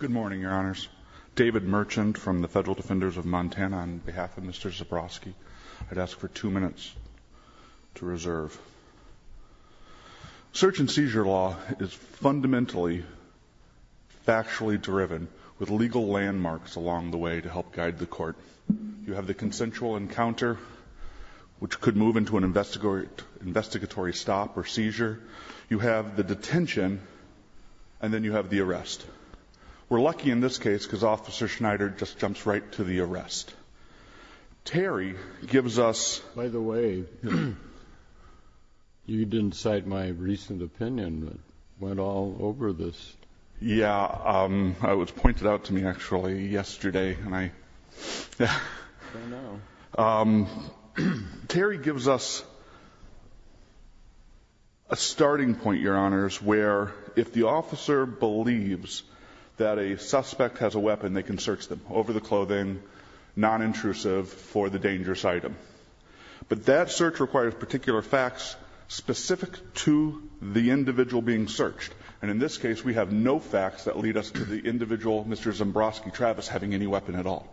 Good morning, your honors. David Merchant from the Federal Defenders of Montana on behalf of Mr. Zabroski. I'd ask for two minutes to reserve. Search and seizure law is fundamentally factually driven with legal landmarks along the way to help guide the court. You have the consensual encounter, which could move into an investigatory stop or seizure. You have the detention, and then you have the arrest. We're lucky in this case because Officer Schneider just jumps right to the arrest. Terry gives us... By the way, you didn't cite my recent opinion that went all over this. Yeah, it was pointed out to me actually yesterday, and I... I know. Terry gives us a starting point, your honors, where if the officer believes that a suspect has a weapon, they can search them over the clothing, non-intrusive, for the dangerous item. But that search requires particular facts specific to the individual being searched. And in this case, we have no facts that lead us to the individual, Mr. Zabroski, Travis, having any weapon at all.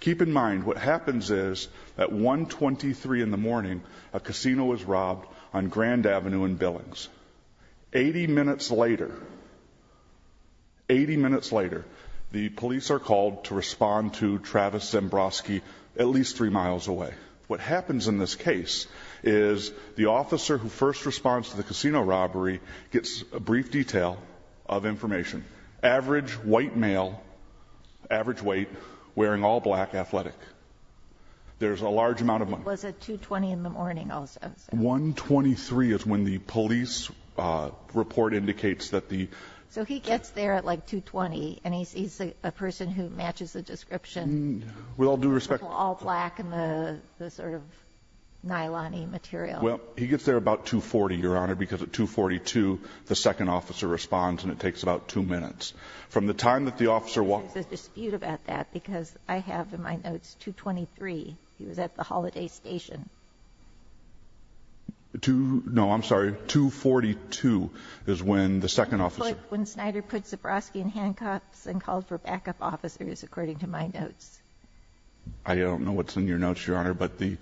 Keep in mind, what happens is, at 1.23 in the morning, a casino is robbed on Grand Avenue in Billings. Eighty minutes later, the police are called to respond to Travis Zabroski at least three miles away. What happens in this case is the officer who first responds to the casino robbery gets a brief detail of information. Average white male, average weight, wearing all black, athletic. There's a large amount of money. He was at 2.20 in the morning also. 1.23 is when the police report indicates that the... So he gets there at like 2.20, and he's a person who matches the description. With all due respect... All black and the sort of nylon-y material. Well, he gets there about 2.40, your honor, because at 2.42, the second officer responds and it takes about two minutes. From the time that the officer... There's a dispute about that because I have in my notes 2.23. He was at the Holiday Station. No, I'm sorry. 2.42 is when the second officer... When Snyder put Zabroski in handcuffs and called for backup officers, according to my notes. I don't know what's in your notes, your honor, but the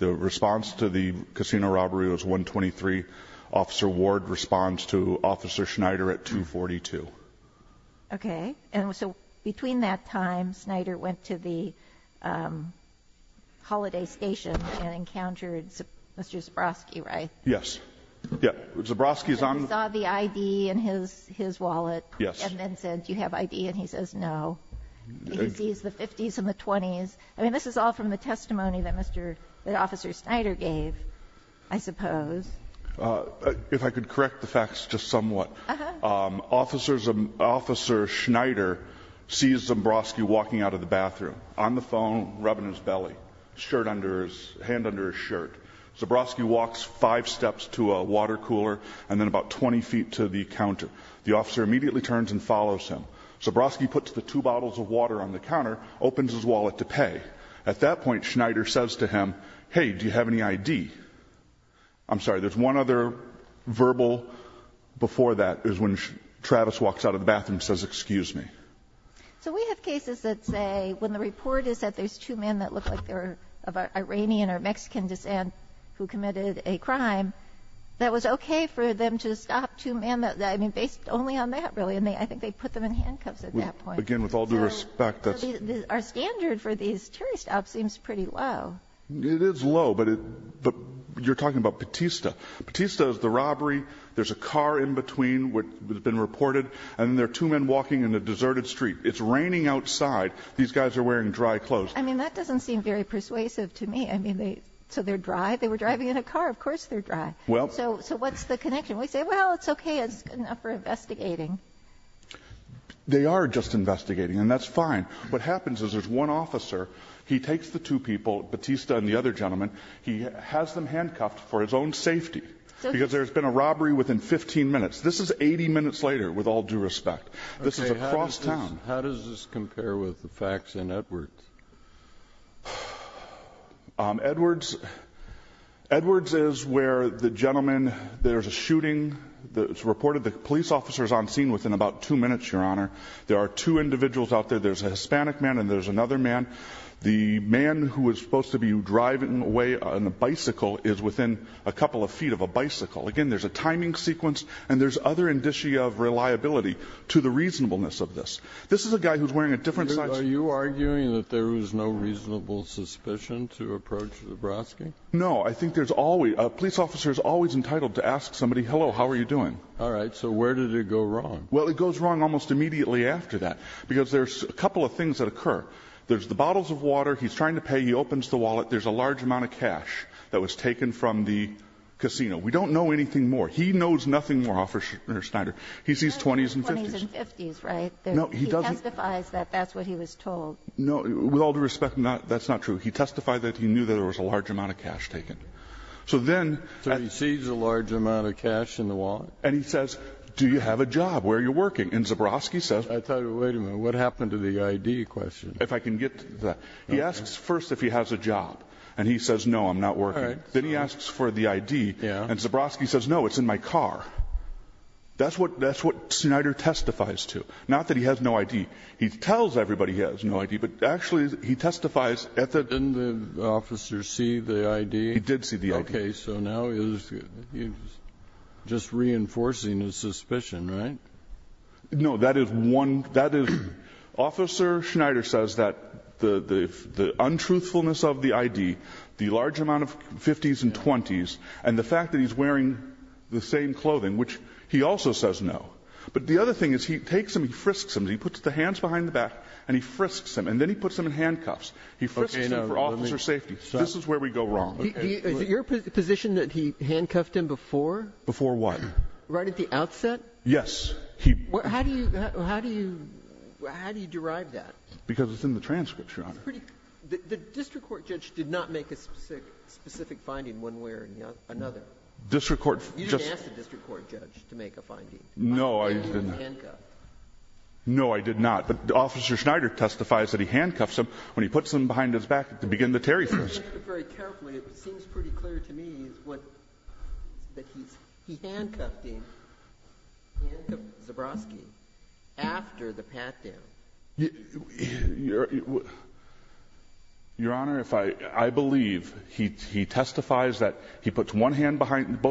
response to the casino robbery was 1.23. Officer Ward responds to Officer Snyder at 2.42. Okay, and so between that time, Snyder went to the Holiday Station and encountered Mr. Zabroski, right? Yes. He saw the ID in his wallet and then said, do you have ID? And he says no. He sees the 50s and the 20s. I mean, this is all from the testimony that Officer Snyder gave, I suppose. If I could correct the facts just somewhat, Officer Snyder sees Zabroski walking out of the bathroom, on the phone, rubbing his belly, hand under his shirt. Zabroski walks five steps to a water cooler and then about 20 feet to the counter. The officer immediately turns and follows him. Zabroski puts the two bottles of water on the counter, opens his wallet to pay. At that point, Snyder says to him, hey, do you have any ID? I'm sorry, there's one other verbal before that is when Travis walks out of the bathroom and says, excuse me. So we have cases that say when the report is that there's two men that look like they're of Iranian or Mexican descent who committed a crime, that was okay for them to stop two men. I mean, based only on that, really, and I think they put them in handcuffs at that point. Again, with all due respect, that's... Our standard for these terrorist ops seems pretty low. It is low, but you're talking about Batista. Batista is the robbery. There's a car in between that's been reported, and there are two men walking in a deserted street. It's raining outside. These guys are wearing dry clothes. I mean, that doesn't seem very persuasive to me. I mean, so they're dry? They were driving in a car. Of course they're dry. So what's the connection? We say, well, it's okay. It's good enough for investigating. They are just investigating, and that's fine. What happens is there's one officer. He takes the two people, Batista and the other gentleman. He has them handcuffed for his own safety because there's been a robbery within 15 minutes. This is 80 minutes later, with all due respect. This is across town. How does this compare with the facts in Edwards? Edwards is where the gentleman, there's a shooting that's reported. The police officer is on scene within about two minutes, Your Honor. There are two individuals out there. There's a Hispanic man, and there's another man. The man who was supposed to be driving away on a bicycle is within a couple of feet of a bicycle. Again, there's a timing sequence, and there's other indicia of reliability to the reasonableness of this. This is a guy who's wearing a different size. Are you arguing that there was no reasonable suspicion to approach Lebroski? No. I think there's always, a police officer is always entitled to ask somebody, hello, how are you doing? All right. So where did it go wrong? Well, it goes wrong almost immediately after that, because there's a couple of things that occur. There's the bottles of water. He's trying to pay. He opens the wallet. There's a large amount of cash that was taken from the casino. We don't know anything more. He knows nothing more, Officer Schneider. He sees 20s and 50s. 20s and 50s, right? No, he doesn't. He testifies that that's what he was told. No. With all due respect, that's not true. He testified that he knew that there was a large amount of cash taken. So then he sees a large amount of cash in the wallet. And he says, do you have a job? Where are you working? And Zabroski says. I thought, wait a minute. What happened to the ID question? If I can get to that. He asks first if he has a job. And he says, no, I'm not working. Then he asks for the ID. Yeah. And Zabroski says, no, it's in my car. That's what Schneider testifies to. Not that he has no ID. He tells everybody he has no ID, but actually he testifies at the. Didn't the officer see the ID? He did see the ID. Okay. So now he's just reinforcing his suspicion, right? No. That is one. Officer Schneider says that the untruthfulness of the ID, the large amount of 50s and 20s, and the fact that he's wearing the same clothing, which he also says no. But the other thing is he takes him, he frisks him. He puts the hands behind the back and he frisks him. And then he puts him in handcuffs. He frisks him for officer safety. This is where we go wrong. Is it your position that he handcuffed him before? Before what? Right at the outset? Yes. How do you derive that? Because it's in the transcript, Your Honor. The district court judge did not make a specific finding one way or another. District court. You didn't ask the district court judge to make a finding. No, I didn't. You didn't handcuff. No, I did not. But Officer Schneider testifies that he handcuffs him when he puts him behind his back to begin the Terry frisking. If you look very carefully, it seems pretty clear to me that he handcuffed him. He handcuffed Zabrowski after the pat down. Your Honor, I believe he testifies that he puts both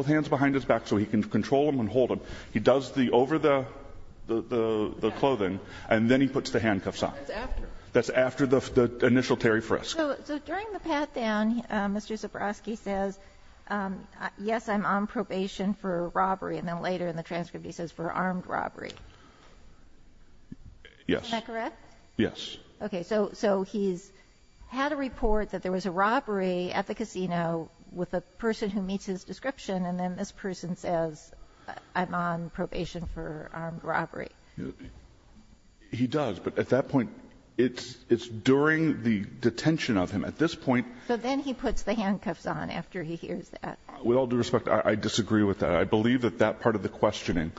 hands behind his back so he can control him and hold him. He does the over the clothing, and then he puts the handcuffs on. That's after. That's after the initial Terry frisk. So during the pat down, Mr. Zabrowski says, yes, I'm on probation for robbery. And then later in the transcript he says for armed robbery. Yes. Is that correct? Yes. Okay. So he's had a report that there was a robbery at the casino with a person who meets his description, and then this person says, I'm on probation for armed robbery. He does. But at that point, it's during the detention of him. At this point. So then he puts the handcuffs on after he hears that. With all due respect, I disagree with that. I believe that that part of the questioning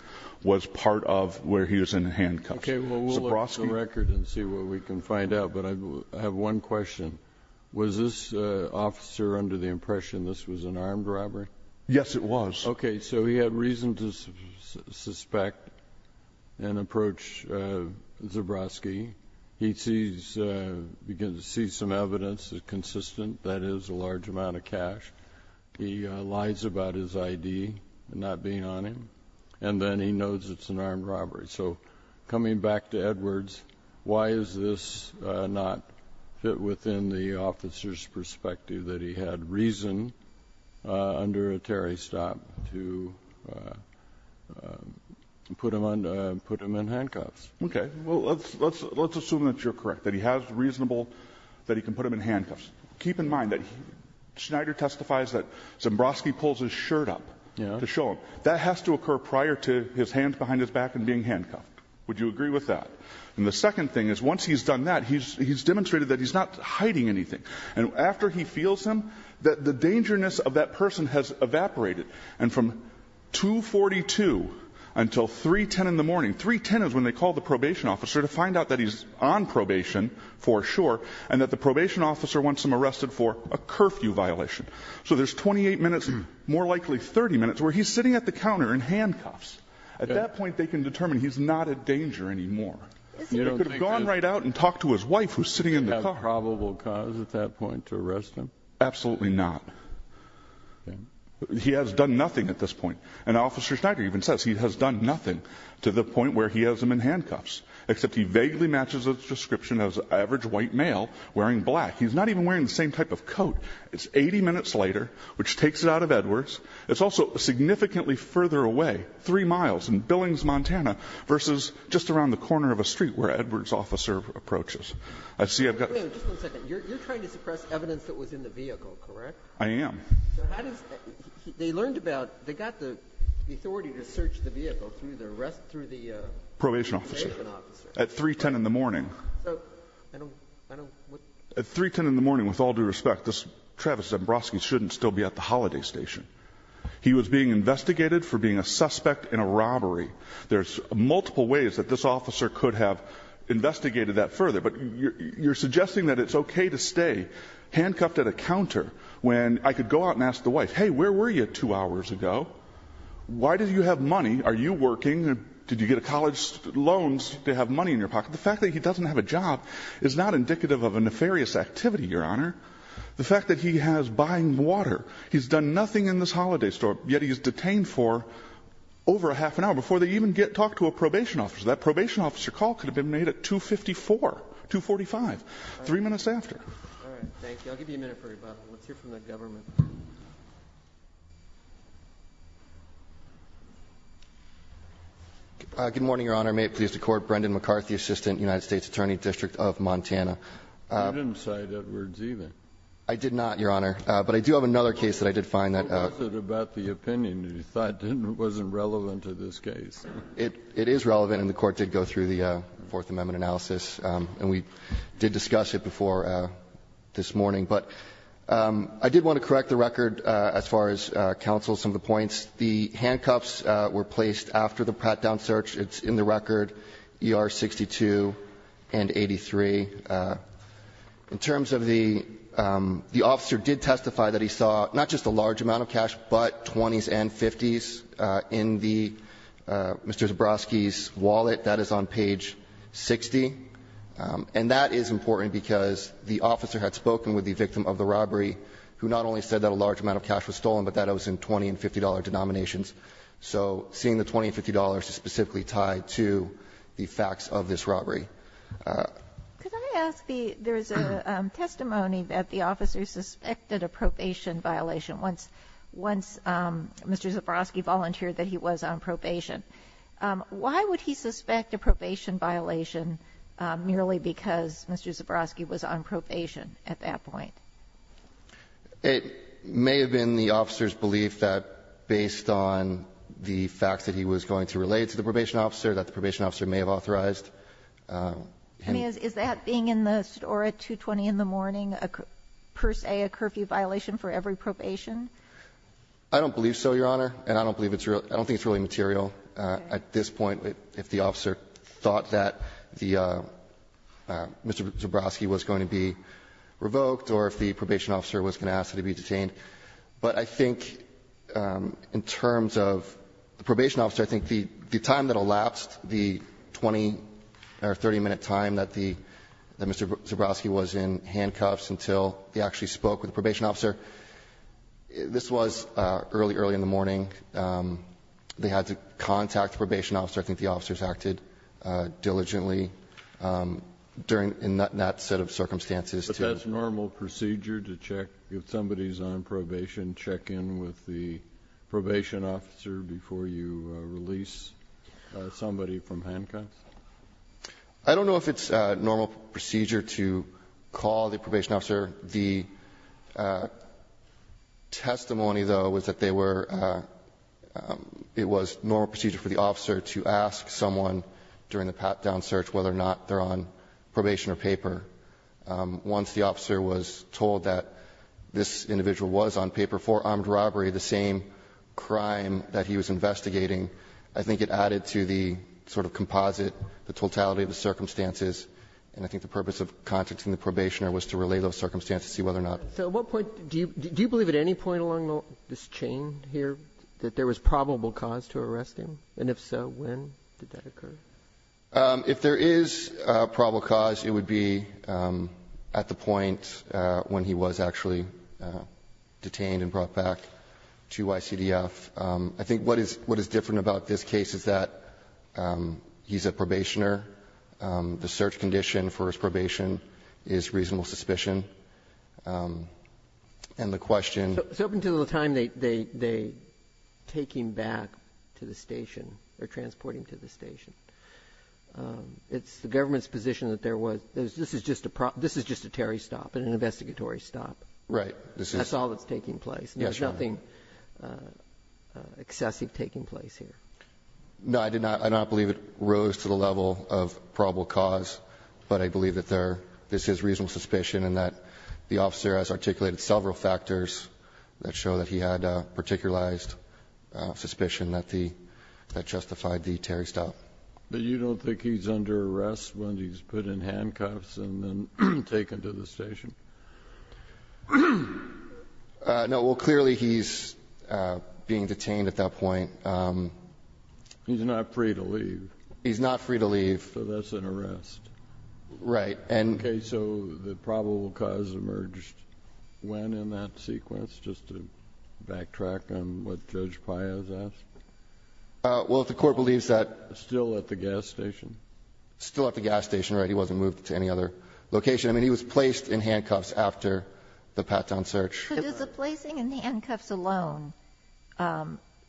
was part of where he was in handcuffs. Okay, well, we'll look at the record and see what we can find out. But I have one question. Was this officer under the impression this was an armed robbery? Yes, it was. Okay, so he had reason to suspect and approach Zabrowski. He sees some evidence that's consistent, that is a large amount of cash. He lies about his ID not being on him. And then he knows it's an armed robbery. So coming back to Edwards, why is this not fit within the officer's perspective that he had reason under a Terry stop to put him in handcuffs? Okay, well, let's assume that you're correct, that he has reasonable, that he can put him in handcuffs. Keep in mind that Schneider testifies that Zabrowski pulls his shirt up to show him. That has to occur prior to his hands behind his back and being handcuffed. Would you agree with that? And the second thing is once he's done that, he's demonstrated that he's not hiding anything. And after he feels him, the dangerousness of that person has evaporated. And from 2.42 until 3.10 in the morning, 3.10 is when they call the probation officer to find out that he's on probation for sure and that the probation officer wants him arrested for a curfew violation. So there's 28 minutes, more likely 30 minutes, where he's sitting at the counter in handcuffs. At that point, they can determine he's not a danger anymore. He could have gone right out and talked to his wife who's sitting in the car. Do you have a probable cause at that point to arrest him? Absolutely not. He has done nothing at this point. And Officer Schneider even says he has done nothing to the point where he has him in handcuffs, except he vaguely matches his description as an average white male wearing black. He's not even wearing the same type of coat. It's 80 minutes later, which takes it out of Edwards. It's also significantly further away, 3 miles, in Billings, Montana, versus just around the corner of a street where Edwards' officer approaches. I see I've got this. Wait a minute. Just one second. You're trying to suppress evidence that was in the vehicle, correct? I am. So how does they learned about they got the authority to search the vehicle through the arrest through the probation officer? At 3.10 in the morning. At 3.10 in the morning, with all due respect, Travis Zembrowski shouldn't still be at the holiday station. He was being investigated for being a suspect in a robbery. There's multiple ways that this officer could have investigated that further. But you're suggesting that it's okay to stay handcuffed at a counter when I could go out and ask the wife, hey, where were you two hours ago? Why do you have money? Are you working? Did you get a college loan to have money in your pocket? The fact that he doesn't have a job is not indicative of a nefarious activity, Your Honor. The fact that he has buying water, he's done nothing in this holiday store, yet he's detained for over a half an hour before they even get to talk to a probation officer. That probation officer call could have been made at 2.54, 2.45, three minutes after. All right. Thank you. I'll give you a minute for rebuttal. Let's hear from the government. Good morning, Your Honor. May it please the Court. Brendan McCarthy, Assistant United States Attorney, District of Montana. You didn't cite Edwards, either. I did not, Your Honor. But I do have another case that I did find that. What was it about the opinion that you thought wasn't relevant to this case? It is relevant, and the Court did go through the Fourth Amendment analysis, and we did discuss it before this morning. But I did want to correct the record as far as counsel some of the points. It's in the record. ER 62 and 83. In terms of the officer did testify that he saw not just a large amount of cash, but 20s and 50s in Mr. Zabrowski's wallet. That is on page 60. And that is important because the officer had spoken with the victim of the robbery, who not only said that a large amount of cash was stolen, but that it was in $20 and $50 denominations. So seeing the $20 and $50 is specifically tied to the facts of this robbery. Could I ask the ---- there is a testimony that the officer suspected a probation violation once Mr. Zabrowski volunteered that he was on probation. Why would he suspect a probation violation merely because Mr. Zabrowski was on probation at that point? It may have been the officer's belief that based on the fact that he was going to relate to the probation officer, that the probation officer may have authorized him. I mean, is that being in the SEDORA 220 in the morning per se a curfew violation for every probation? I don't believe so, Your Honor. And I don't believe it's real. I don't think it's really material at this point if the officer thought that the Mr. Zabrowski was going to be revoked. Or if the probation officer was going to ask him to be detained. But I think in terms of the probation officer, I think the time that elapsed, the 20 or 30 minute time that the Mr. Zabrowski was in handcuffs until he actually spoke with the probation officer, this was early, early in the morning. They had to contact the probation officer. I think the officers acted diligently during that set of circumstances. But that's normal procedure to check if somebody's on probation, check in with the probation officer before you release somebody from handcuffs? I don't know if it's normal procedure to call the probation officer. The testimony, though, was that they were ‑‑ it was normal procedure for the officer to ask someone during the pat-down search whether or not they're on probation or paper. Once the officer was told that this individual was on paper for armed robbery, the same crime that he was investigating, I think it added to the sort of composite, the totality of the circumstances. And I think the purpose of contacting the probationer was to relay those circumstances, see whether or not ‑‑ So at what point ‑‑ do you believe at any point along this chain here that there was probable cause to arrest him? And if so, when did that occur? If there is probable cause, it would be at the point when he was actually detained and brought back to ICDF. I think what is different about this case is that he's a probationer. The search condition for his probation is reasonable suspicion. And the question ‑‑ Up until the time they take him back to the station or transport him to the station, it's the government's position that there was ‑‑ this is just a Terry stop, an investigatory stop. Right. That's all that's taking place. There's nothing excessive taking place here. No, I did not ‑‑ I do not believe it rose to the level of probable cause, but I believe that there ‑‑ this is reasonable suspicion and that the officer has articulated several factors that show that he had a particularized suspicion that the ‑‑ that justified the Terry stop. But you don't think he's under arrest when he's put in handcuffs and then taken to the station? No. Well, clearly he's being detained at that point. He's not free to leave. He's not free to leave. So that's an arrest. Right. Okay. So the probable cause emerged when in that sequence, just to backtrack on what Judge Paez asked? Well, if the Court believes that ‑‑ Still at the gas station? Still at the gas station, right. He wasn't moved to any other location. I mean, he was placed in handcuffs after the Patton search. So does the placing in handcuffs alone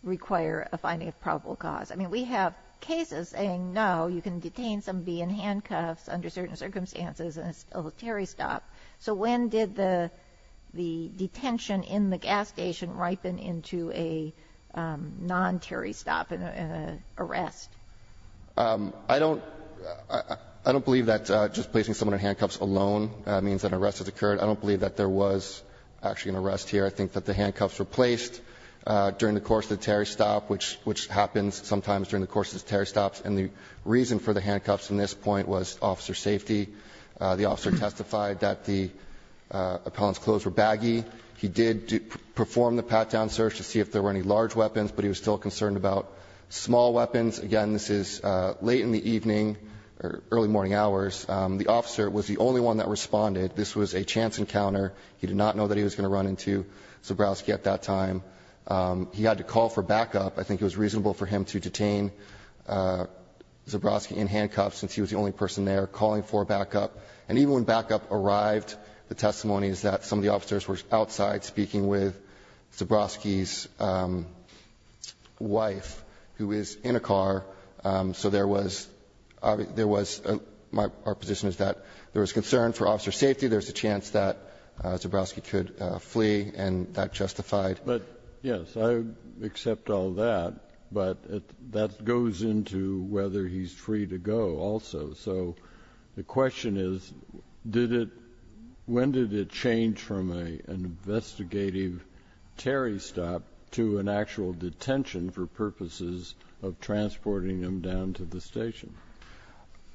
require a finding of probable cause? I mean, we have cases saying no, you can detain somebody in handcuffs under certain circumstances and it's still a Terry stop. So when did the detention in the gas station ripen into a non‑Terry stop, an arrest? I don't believe that just placing someone in handcuffs alone means that an arrest has occurred. I don't believe that there was actually an arrest here. I think that the handcuffs were placed during the course of the Terry stop, which happens sometimes during the course of Terry stops. And the reason for the handcuffs in this point was officer safety. The officer testified that the appellant's clothes were baggy. He did perform the Patton search to see if there were any large weapons, but he was still concerned about small weapons. Again, this is late in the evening, early morning hours. The officer was the only one that responded. This was a chance encounter. He did not know that he was going to run into Zabrowski at that time. He had to call for backup. I think it was reasonable for him to detain Zabrowski in handcuffs, since he was the only person there, calling for backup. And even when backup arrived, the testimony is that some of the officers were outside speaking with Zabrowski's wife, who is in a car. So there was ‑‑ there was ‑‑ our position is that there was concern for officer safety. There was a chance that Zabrowski could flee, and that justified. But, yes, I accept all that. But that goes into whether he's free to go also. So the question is, did it ‑‑ when did it change from an investigative Terry stop to an actual detention for purposes of transporting him down to the station?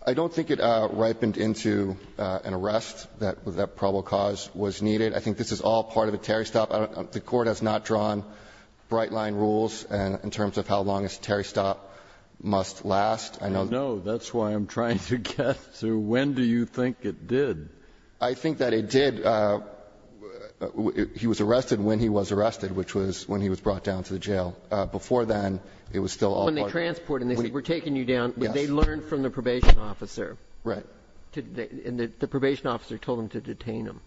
I don't think it ripened into an arrest, that probable cause was needed. I think this is all part of a Terry stop. I don't ‑‑ the Court has not drawn bright-line rules in terms of how long a Terry stop must last. I know ‑‑ I know. That's why I'm trying to guess. So when do you think it did? I think that it did ‑‑ he was arrested when he was arrested, which was when he was brought down to the jail. Before then, it was still all part of ‑‑ When they transported him, they said, we're taking you down. Yes. But they learned from the probation officer. Right. And the probation officer told them to detain him.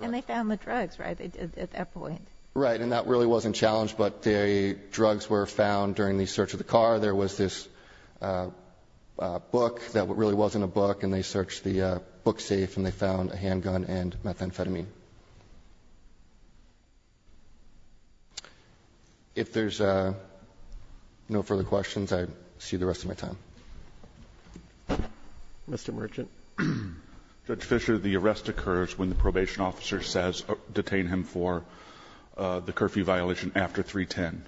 And they found the drugs, right? At that point. Right. And that really wasn't challenged, but the drugs were found during the search of the car. There was this book that really wasn't a book, and they searched the book safe and they found a handgun and methamphetamine. If there's no further questions, I see the rest of my time. Mr. Merchant. Judge Fischer, the arrest occurs when the probation officer says detain him for the curfew violation after 310.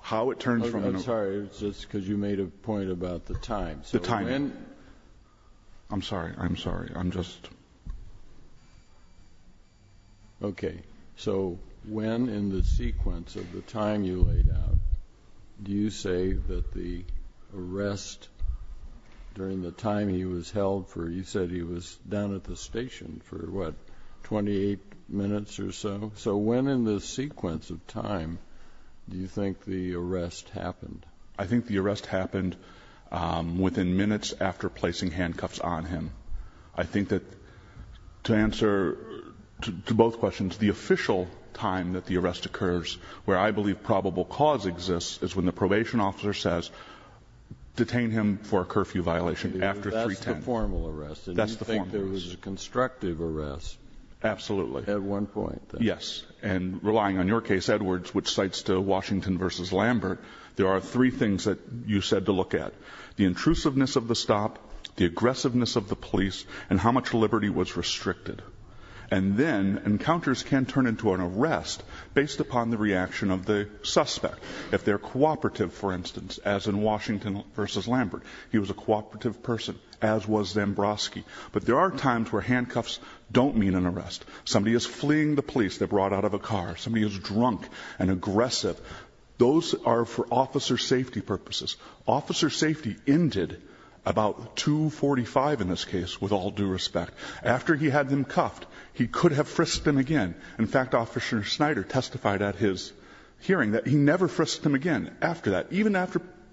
How it turns from ‑‑ I'm sorry. It's just because you made a point about the time. The time. I'm sorry. I'm sorry. I'm just ‑‑ Okay. So when in the sequence of the time you laid out, do you say that the arrest during the time he was held, you said he was down at the station for, what, 28 minutes or so? So when in the sequence of time do you think the arrest happened? I think the arrest happened within minutes after placing handcuffs on him. I think that to answer to both questions, the official time that the arrest occurs where I believe probable cause exists is when the probation officer says detain him for a curfew violation after 310. That's the formal arrest. That's the formal arrest. And you think there was a constructive arrest. Absolutely. At one point. Yes. And relying on your case, Edwards, which cites to Washington v. Lambert, there are three things that you said to look at. The intrusiveness of the stop, the aggressiveness of the police, and how much liberty was restricted. And then encounters can turn into an arrest based upon the reaction of the suspect. If they're cooperative, for instance, as in Washington v. Lambert, he was a cooperative person, as was Zambrowski. But there are times where handcuffs don't mean an arrest. Somebody is fleeing the police. They're brought out of a car. Somebody is drunk and aggressive. Those are for officer safety purposes. Officer safety ended about 245 in this case, with all due respect. After he had them cuffed, he could have frisked them again. In fact, Officer Snyder testified at his hearing that he never frisked him again after that, even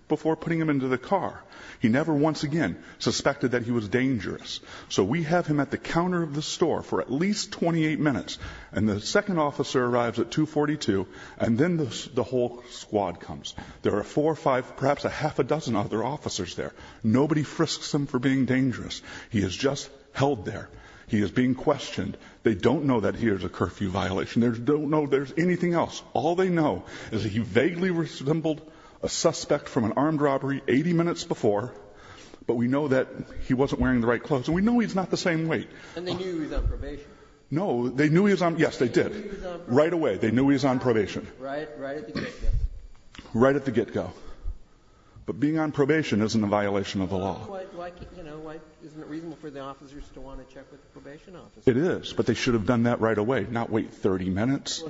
before putting him into the car. He never once again suspected that he was dangerous. So we have him at the counter of the store for at least 28 minutes, and the second officer arrives at 242, and then the whole squad comes. There are four, five, perhaps a half a dozen other officers there. Nobody frisks him for being dangerous. He is just held there. He is being questioned. They don't know that he is a curfew violation. They don't know there's anything else. All they know is that he vaguely resembled a suspect from an armed robbery 80 minutes before, but we know that he wasn't wearing the right clothes, and we know he's not the same weight. And they knew he was on probation. No. They knew he was on probation. Yes, they did. They knew he was on probation. Right away. They knew he was on probation. Right at the get-go. Right at the get-go. But being on probation isn't a violation of the law. Isn't it reasonable for the officers to want to check with the probation officers? It is. But they should have done that right away, not wait 30 minutes.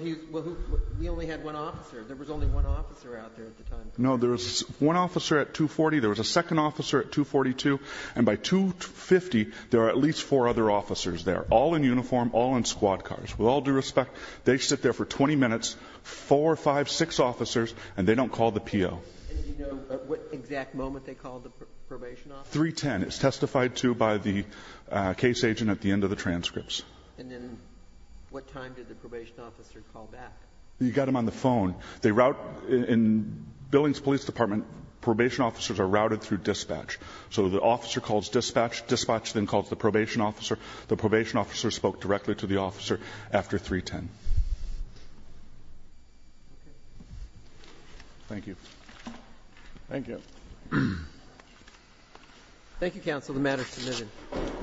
We only had one officer. There was only one officer out there at the time. No. There was one officer at 240. There was a second officer at 242. And by 250, there are at least four other officers there, all in uniform, all in squad cars. With all due respect, they sit there for 20 minutes, four, five, six officers, and they don't call the PO. And do you know at what exact moment they called the probation officer? 310. 310. It's testified to by the case agent at the end of the transcripts. And then what time did the probation officer call back? You got them on the phone. In Billings Police Department, probation officers are routed through dispatch. So the officer calls dispatch. Dispatch then calls the probation officer. The probation officer spoke directly to the officer after 310. Thank you. Thank you. Thank you, counsel. The matter is submitted.